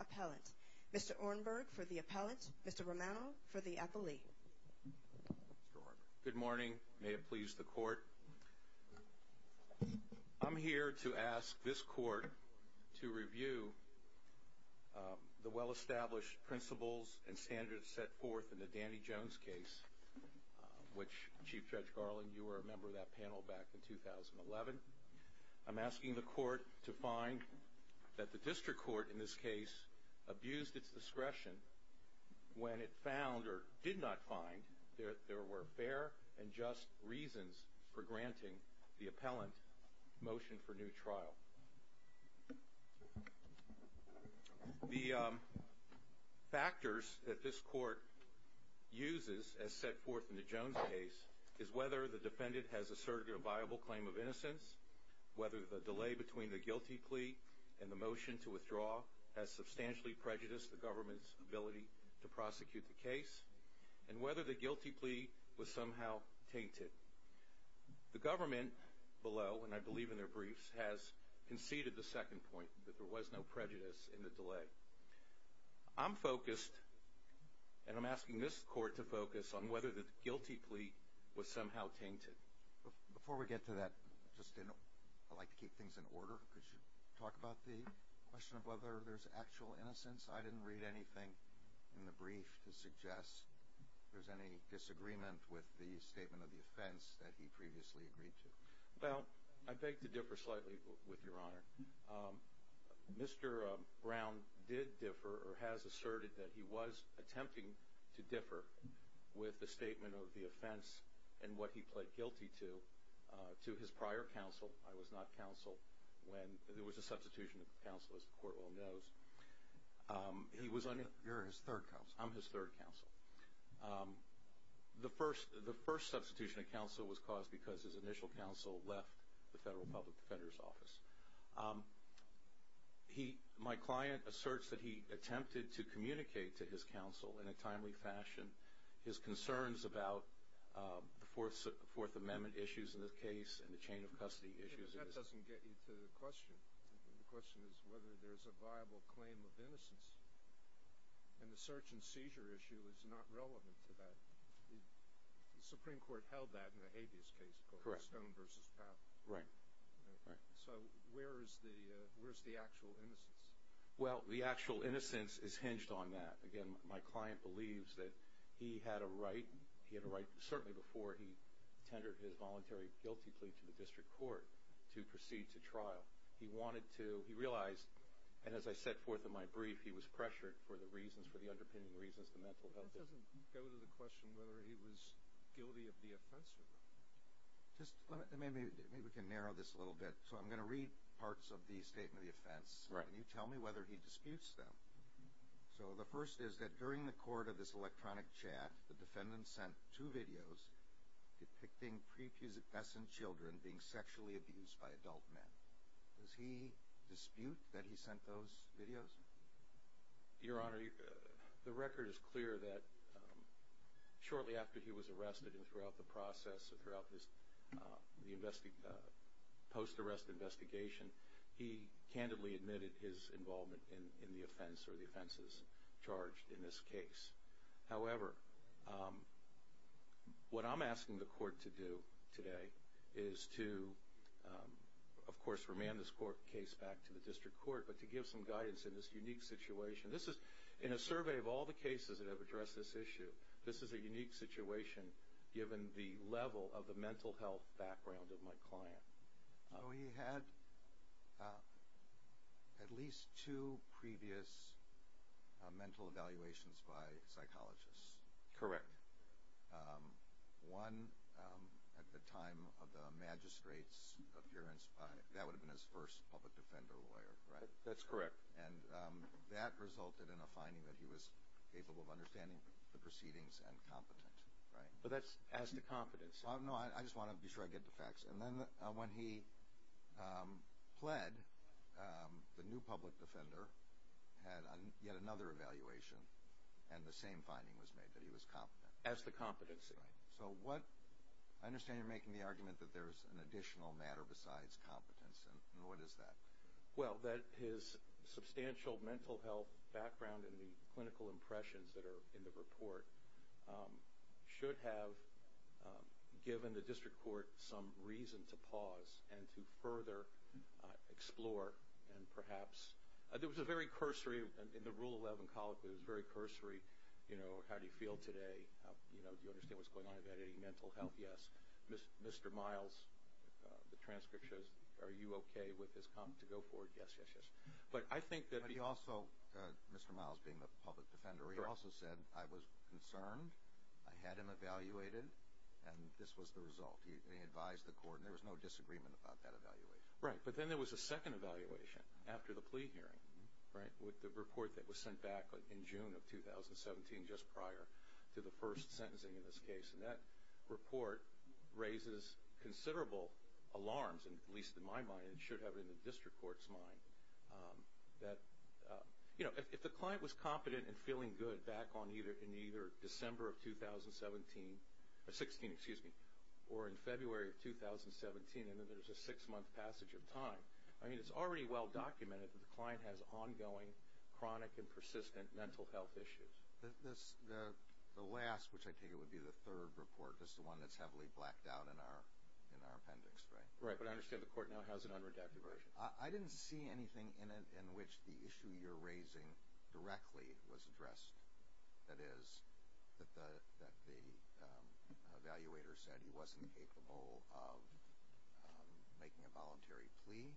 Appellant. Mr. Ornberg for the Appellant. Mr. Romano for the Appellee. Good morning. May it please the Court. I'm here to ask this Court to review the well-established principles and standards set forth in the Danny Jones case, which Chief Judge Garland, was a member of that panel back in 2011. I'm asking the Court to find that the District Court in this case abused its discretion when it found, or did not find, that there were fair and just reasons for granting the Appellant motion for new trial. The factors that this Appellant has asserted a viable claim of innocence, whether the delay between the guilty plea and the motion to withdraw has substantially prejudiced the government's ability to prosecute the case, and whether the guilty plea was somehow tainted. The government below, and I believe in their briefs, has conceded the second point, that there was no prejudice in the delay. I'm focused, and I'm asking this Court to focus, on whether the guilty plea was tainted. Before we get to that, I'd like to keep things in order. Could you talk about the question of whether there's actual innocence? I didn't read anything in the brief to suggest there's any disagreement with the statement of the offense that he previously agreed to. Well, I beg to differ slightly with Your Honor. Mr. Brown did differ, or has asserted that he was attempting to differ, with the statement of the offense and what he pled guilty to, to his prior counsel. I was not counsel when there was a substitution of counsel, as the Court well knows. You're his third counsel. I'm his third counsel. The first substitution of counsel was caused because his initial counsel left the Federal Public Defender's Office. My client asserts that he attempted to communicate to his counsel, in a timely fashion, his concerns about the Fourth Amendment issues in this case, and the chain of custody issues. That doesn't get you to the question. The question is whether there's a viable claim of innocence. And the search and seizure issue is not relevant to that. The Supreme Court held that in the habeas case. Correct. Stone versus Powell. Right. So where is the actual innocence? Well, the actual innocence is hinged on that. Again, my client believes that he had a right, certainly before he tendered his voluntary guilty plea to the District Court, to proceed to trial. He realized, and as I set forth in my brief, he was pressured for the reasons, for the underpinning reasons, the mental health issues. That doesn't go to the question whether he was guilty of the offense or not. Maybe we can narrow this a little bit. So I'm going to read parts of the statement of the offense. Right. Can you tell me whether he disputes them? So the first is that during the court of this electronic chat, the defendant sent two videos depicting pre-pubescent children being sexually abused by adult men. Does he dispute that he sent those videos? Your Honor, the record is clear that shortly after he was arrested and throughout the process, throughout the post-arrest investigation, he candidly admitted his involvement in the offense or the offenses charged in this case. However, what I'm asking the court to do today is to, of course, remand this case back to the District Court, but to give some guidance in this unique situation. This is, in a survey of all the cases that have addressed this issue, this is a unique situation given the level of the mental health background of my client. So he had at least two previous mental evaluations by psychologists. Correct. One at the time of the magistrate's appearance, that would have been his first public defender lawyer, right? That's correct. And that resulted in a finding that he was capable of understanding the proceedings and competent, right? But that's as to competence. No, I just want to be sure I get the facts. And then when he pled, the new public defender had yet another evaluation, and the same finding was made that he was competent. As to competency. Right. So what, I understand you're making the argument that there's an additional matter besides competence, and what is that? Well, that his substantial mental health background and the clinical impressions that are in the report should have given the District Court some reason to pause and to further explore and perhaps, there was a very cursory, in the Rule 11 colloquy, it was very cursory, you know, how do you feel today? You know, do you understand what's going on about any mental health? Yes. Mr. Miles, the transcript shows, are you okay with his comment to go forward? Yes, yes, yes. But I think that he also, Mr. Miles being the public defender, he also said, I was concerned, I had him evaluated, and this was the result. He advised the court, and there was no disagreement about that evaluation. Right, but then there was a second evaluation after the plea hearing, right? With the report that was sent back in June of 2017, just prior to the first sentencing in this case. And that report raises considerable alarms, at least in my mind, and it should have in the District Court's mind, that, you know, if the client was competent and feeling good back in either December of 2017, or 16, excuse me, or in February of 2017, and then there's a six-month passage of time, I mean, it's already well documented that the client has ongoing, chronic, and persistent mental health issues. The last, which I take it would be the third report, just the one that's heavily blacked out in our appendix, right? Right, but I understand the court now has an unredacted version. I didn't see anything in it in which the issue you're raising directly was addressed. That is, that the evaluator said he wasn't capable of making a voluntary plea,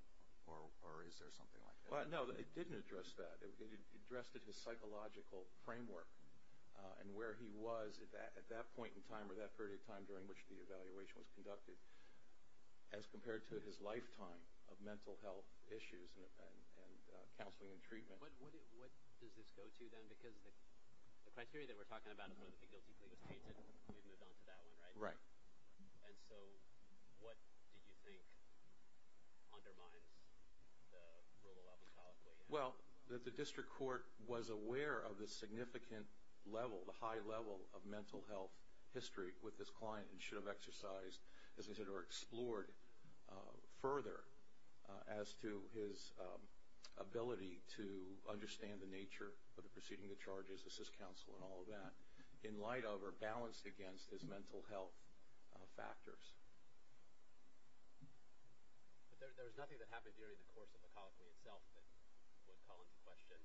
or is there something like that? No, it didn't address that. It addressed his psychological framework, and where he was at that point in time, or that period of time during which the evaluation was conducted, as compared to his lifetime of mental health issues and counseling and treatment. What does this go to then? Because the criteria that we're talking about is one of the guilty pleas was tainted, and we've moved on to that one, right? Right. And so, what did you think undermines the rule of law? Well, that the district court was aware of the significant level, the high level of mental health history with this client, and should have exercised, as I said, or explored further as to his ability to understand the nature of the proceeding, the charges, the cis-counsel, and all of that, in light of or balanced against his mental health factors. But there was nothing that happened during the course of the colloquy itself that would call into question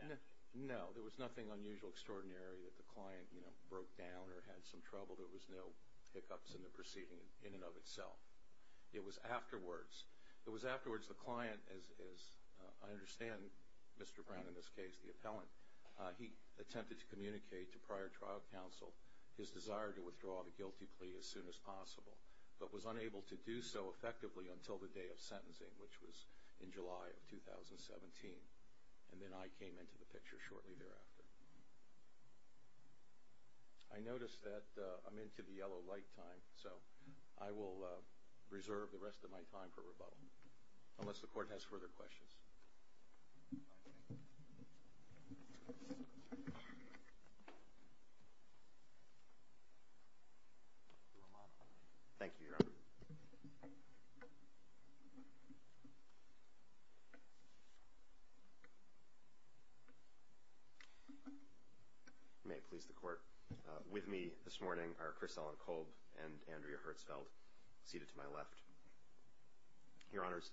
that? No, there was nothing unusual, extraordinary that the client, you know, broke down or had some trouble. There was no hiccups in the proceeding in and of itself. It was afterwards. It was afterwards the client, as I understand Mr. Brown in this case, the appellant, he attempted to communicate to prior trial counsel his desire to withdraw the guilty plea as soon as possible, but was unable to do so effectively until the day of sentencing, which was in July of 2017, and then I came into the picture shortly thereafter. I notice that I'm into the yellow light time, so I will reserve the rest of my time for rebuttal, unless the court has further questions. Thank you, Your Honor. May it please the court, with me this morning are Chris Ellen Kolb and Andrea Hertzfeld, seated to my left. Your Honors,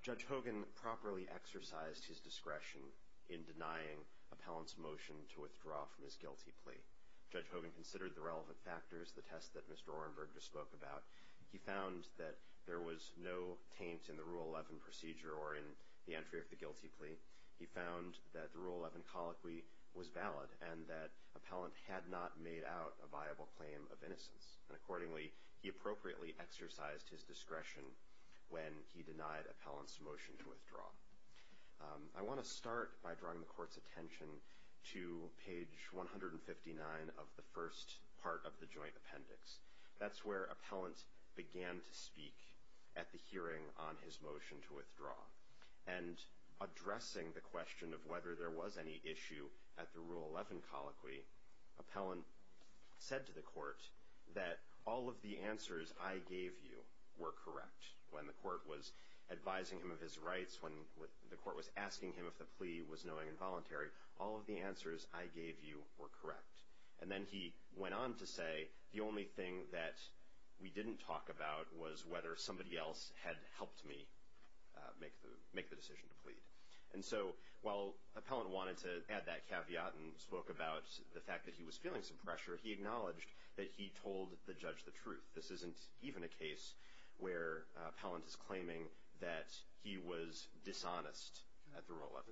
Judge Hogan properly exercised his discretion in denying appellant's motion to withdraw from his guilty plea. Judge Hogan considered the relevant factors, the test that Mr. Orenberg just spoke about. He found that there was no taint in the Rule 11 procedure or in the entry of the guilty plea. He found that the Rule 11 colloquy was valid and that appellant had not made out a viable claim of innocence, and accordingly he appropriately exercised his discretion when he denied appellant's motion to withdraw. I want to start by drawing the court's attention to page 159 of the first part of the joint appendix. That's where appellant began to speak at the hearing on his motion to withdraw, and addressing the question of whether there was any issue at the Rule 11 colloquy, appellant said to the court that all of the answers I gave you were correct. When the court was asking him if the plea was knowing and voluntary, all of the answers I gave you were correct. And then he went on to say the only thing that we didn't talk about was whether somebody else had helped me make the decision to plead. And so while appellant wanted to add that caveat and spoke about the fact that he was feeling some pressure, he acknowledged that he told the judge the truth. This isn't even a case where appellant is claiming that he was dishonest at the Rule 11.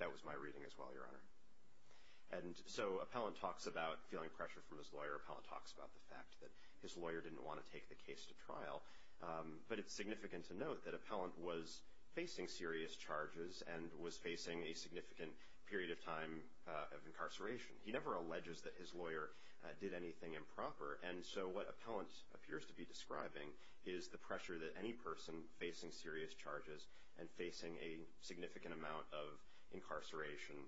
That was my reading as well, Your Honor. And so appellant talks about feeling pressure from his lawyer, appellant talks about the fact that his lawyer didn't want to take the case to trial, but it's significant to note that appellant was facing serious charges and was facing a significant period of time of incarceration. He never alleges that his lawyer did anything improper. And so what appellant appears to be describing is the pressure that any person facing serious charges and facing a significant amount of incarceration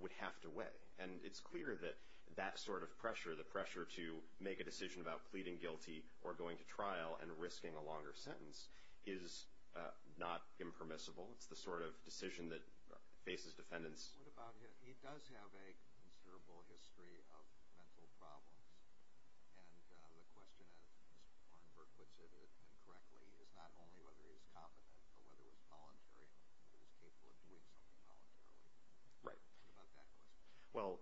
would have to weigh. And it's clear that that sort of pressure, the pressure to make a decision about pleading guilty or going to trial and risking a longer sentence, is not impermissible. It's the sort of decision that faces defendants. He does have a considerable history of mental problems. And the question, as Mr. Kornberg puts it correctly, is not only whether he's competent, but whether he's voluntary and is capable of doing something voluntarily. What about that question? Well,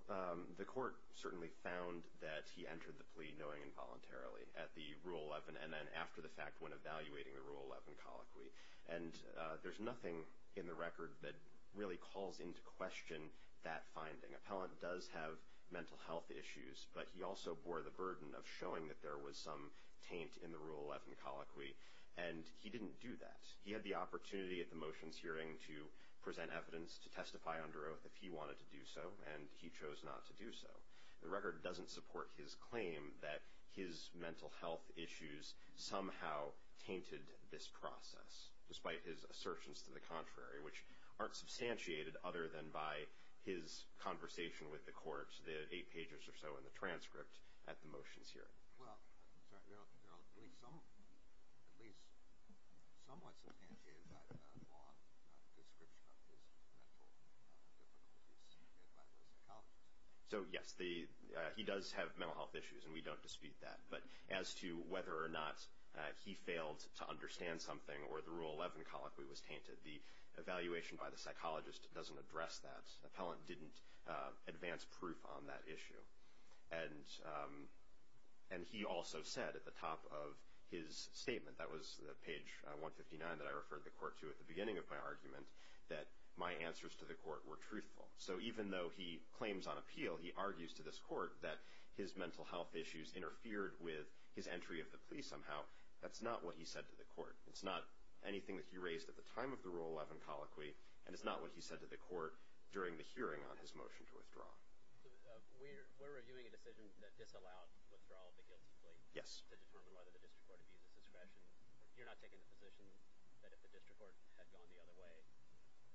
the court certainly found that he entered the plea knowing involuntarily at the Rule 11 and then after the fact when evaluating the Rule 11 colloquy. And there's nothing in the record that really calls into question that finding. Appellant does have mental health issues, but he also bore the burden of showing that there was some taint in the Rule 11 colloquy. And he didn't do that. He had the opportunity at the motions hearing to present evidence to testify under oath if he wanted to do so, and he chose not to do so. The record doesn't support his claim that his mental health issues somehow tainted this process, despite his assertions to the contrary, which aren't substantiated other than by his conversation with the court, the eight pages or so in the transcript at the motions hearing. Well, there are at least somewhat substantiated by the law description of his mental difficulties made by Mr. Collins. So, yes, he does have mental health issues, and we don't dispute that. But as to whether or not he failed to understand something or the Rule 11 colloquy was tainted, the evaluation by the psychologist doesn't address that. Appellant didn't advance proof on that issue. And he also said at the top of his statement, that was the page 159 that I referred the court to at the beginning of my argument, that my answers to the court were truthful. So even though he claims on appeal, he argues to this court that his mental health issues interfered with his entry of the plea somehow, that's not what he said to the court. It's not anything that he raised at the time of the Rule 11 colloquy, and it's not what he said to the court during the hearing on his motion to withdraw. We're reviewing a decision that disallowed withdrawal of the guilty plea to determine whether the district court abuses discretion. You're not taking the position that if the district court had gone the other way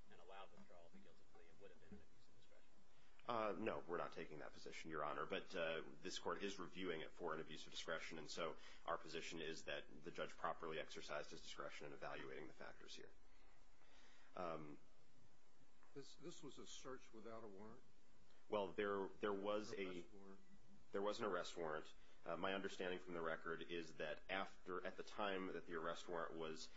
and allowed withdrawal of the guilty plea, it would have been an abuse of discretion? No, we're not taking that position, Your Honor. But this court is reviewing it for an abuse of discretion, and so our position is that the judge properly exercised his discretion in evaluating the factors here. This was a search without a warrant? Well, there was an arrest warrant. My understanding from the record is that at the time that the arrest warrant was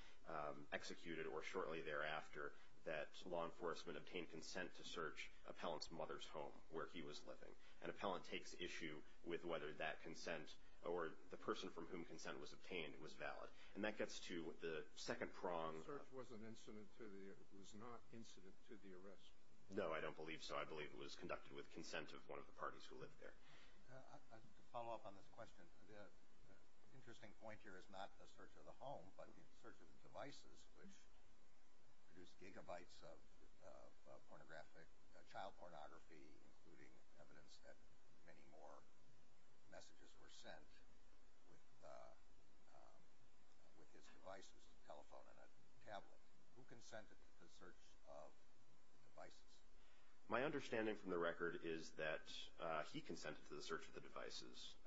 executed, or shortly thereafter, that law enforcement obtained consent to search Appellant's mother's home, where he was living. And Appellant takes issue with whether that consent, or the person from whom consent was obtained, was valid. And that gets to the second prong. The search was not incident to the arrest? No, I don't believe so. I believe it was conducted with consent of one of the parties who lived there. To follow up on this question, the interesting point here is not the search of the home, but the search of the devices, which produced gigabytes of child pornography, including evidence that many more messages were sent with his devices, a telephone and a tablet. Who consented to the search of the devices? My understanding from the record is that he consented to the search of the devices,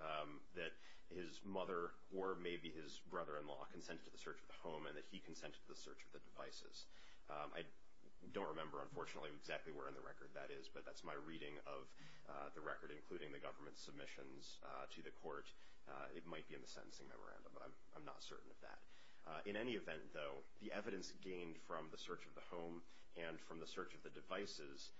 that his mother or maybe his brother-in-law consented to the search of the home, and that he consented to the search of the devices. I don't remember, unfortunately, exactly where in the record that is, but that's my reading of the record, including the government's submissions to the court. It might be in the sentencing memorandum, but I'm not certain of that. In any event, though, the evidence gained from the search of the home and from the search of the devices,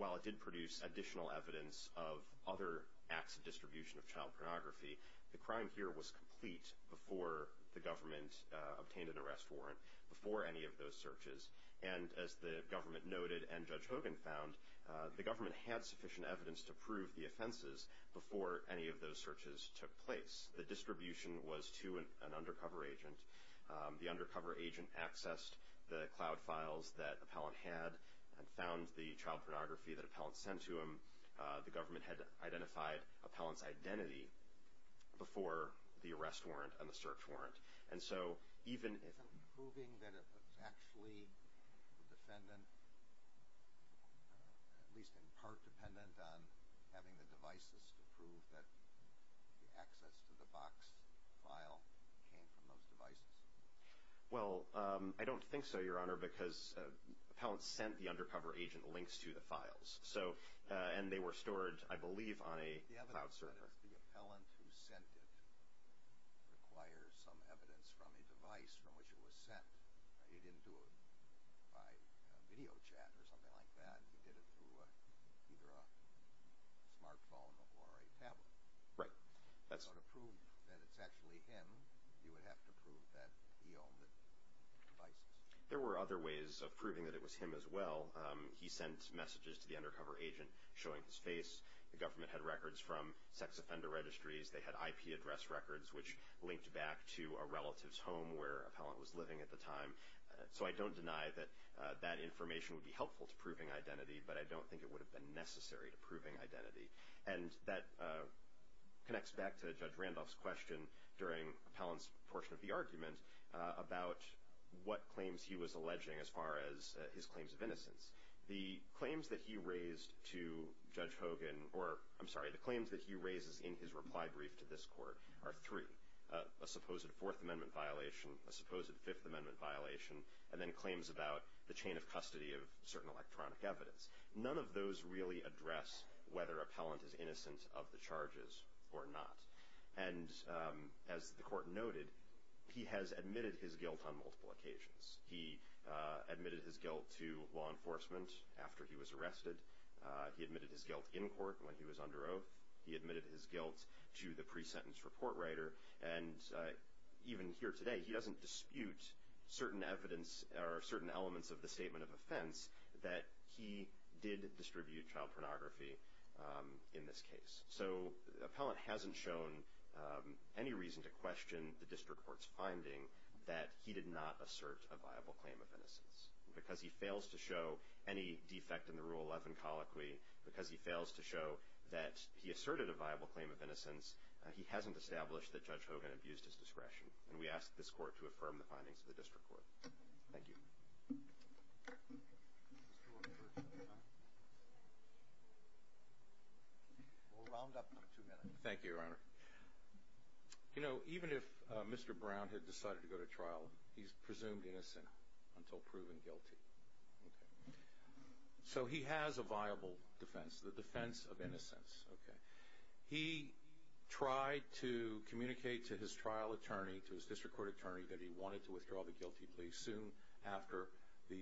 while it did produce additional evidence of other acts of distribution of The crime here was complete before the government obtained an arrest warrant, before any of those searches, and as the government noted and Judge Hogan found, the government had sufficient evidence to prove the offenses before any of those searches took place. The distribution was to an undercover agent. The undercover agent accessed the cloud files that Appellant had and found the child pornography that Appellant sent to him. The government had identified Appellant's identity before the arrest warrant and the search warrant, and so even... Is it proving that it was actually the defendant, at least in part dependent on having the devices to prove that the access to the box file came from those devices? Well, I don't think so, Your Honor, because Appellant sent the undercover agent links to the files, and they were stored, I believe, on a cloud server. The evidence that the appellant who sent it requires some evidence from a device from which it was sent. He didn't do it by video chat or something like that. He did it through either a smartphone or a tablet. Right. So to prove that it's actually him, you would have to prove that he owned the devices. There were other ways of proving that it was him as well. He sent messages to the undercover agent showing his face. The government had records from sex offender registries. They had IP address records which linked back to a relative's home where Appellant was living at the time. So I don't deny that that information would be helpful to proving identity, but I don't think it would have been necessary to proving identity. And that connects back to Judge Randolph's question during Appellant's portion of the claims he was alleging as far as his claims of innocence. The claims that he raised to Judge Hogan, or I'm sorry, the claims that he raises in his reply brief to this court are three, a supposed Fourth Amendment violation, a supposed Fifth Amendment violation, and then claims about the chain of custody of certain electronic evidence. None of those really address whether Appellant is innocent of the charges or not. And as the court noted, he has admitted his guilt on multiple occasions. He admitted his guilt to law enforcement after he was arrested. He admitted his guilt in court when he was under oath. He admitted his guilt to the pre-sentence report writer. And even here today, he doesn't dispute certain evidence or certain elements of the statement of offense that he did distribute child pornography in this case. So Appellant hasn't shown any reason to question the district court's finding that he did not assert a viable claim of innocence. Because he fails to show any defect in the Rule 11 colloquy, because he fails to show that he asserted a viable claim of innocence, he hasn't established that Judge Hogan abused his discretion. And we ask this court to affirm the findings of the district court. Thank you. We'll round up in two minutes. Thank you, Your Honor. You know, even if Mr. Brown had decided to go to trial, he's presumed innocent until proven guilty. So he has a viable defense, the defense of innocence. He tried to communicate to his trial attorney, to his district court attorney, that he wanted to withdraw the guilty plea soon after the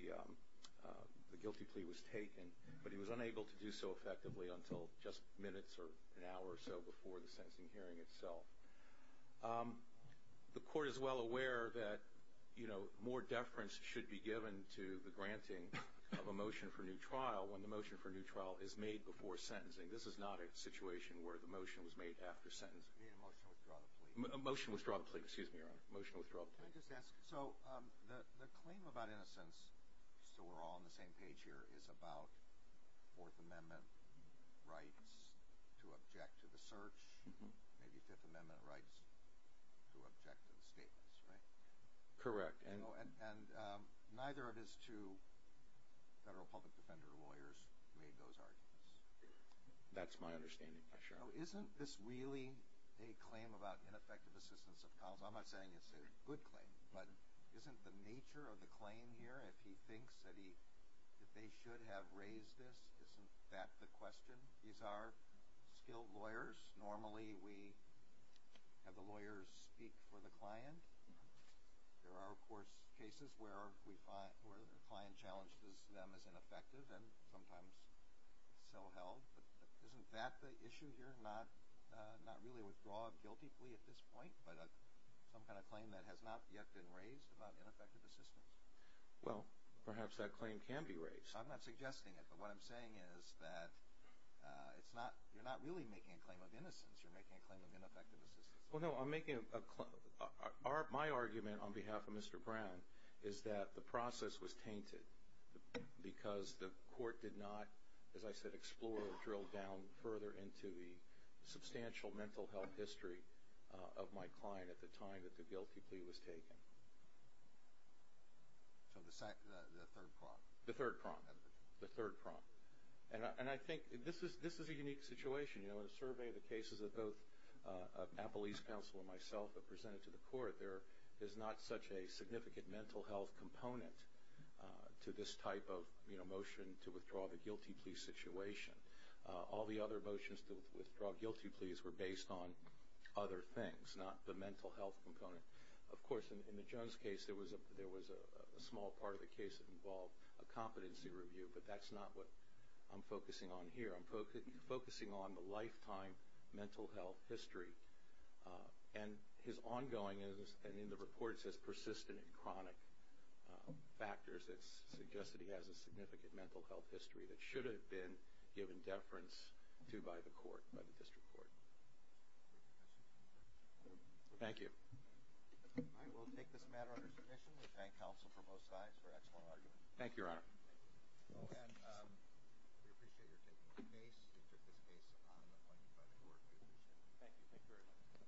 guilty plea was taken. But he was unable to do so effectively until just minutes or an hour or so before the sentencing hearing itself. The court is well aware that more deference should be given to the granting of a motion for new trial when the motion for new trial is made before sentencing. This is not a situation where the motion was made after sentencing. You mean a motion to withdraw the plea? A motion to withdraw the plea. Excuse me, Your Honor. Motion to withdraw the plea. Can I just ask, so the claim about innocence, so we're all on the same page here, is about Fourth Amendment rights to object to the search, maybe Fifth Amendment rights to object to the statements, right? Correct. And neither of his two federal public defender lawyers made those arguments. That's my understanding, Your Honor. So isn't this really a claim about ineffective assistance of cause? I'm not saying it's a good claim, but isn't the nature of the claim here, if he thinks that he, if they should have raised this, isn't that the question? These are skilled lawyers. Normally we have the lawyers speak for the client. There are, of course, cases where we find, where the client challenges them as ineffective and sometimes so held. But isn't that the issue here, not really a withdrawal of guilty plea at this point, but some kind of claim that has not yet been raised about ineffective assistance? Well, perhaps that claim can be raised. I'm not suggesting it, but what I'm saying is that it's not, you're not really making a claim of innocence. You're making a claim of ineffective assistance. Well, no, I'm making a, my argument on behalf of Mr. Brown is that the process was tainted because the court did not, as I said, explore or drill down further into the substantial mental health history of my client at the time that the guilty plea was taken. So the third prong. The third prong. The third prong. And I think, this is a unique situation. You know, in a survey of the cases that both Appalese counsel and myself have presented to the court, there is not such a significant mental health component to this type of, you know, motion to withdraw the guilty plea situation. All the other motions to withdraw guilty pleas were based on other things, not the mental health component. Of course, in the Jones case, there was a small part of the case that involved a competency review, but that's not what I'm focusing on And his ongoing, and in the report it says persistent and chronic factors, it suggests that he has a significant mental health history that should have been given deference to by the court, by the district court. Thank you. I will take this matter under submission. We thank counsel from both sides for excellent argument. Thank you, Your Honor. And we appreciate your taking the case. You took this case on the point by the court. We appreciate it. Thank you. Thank you very much.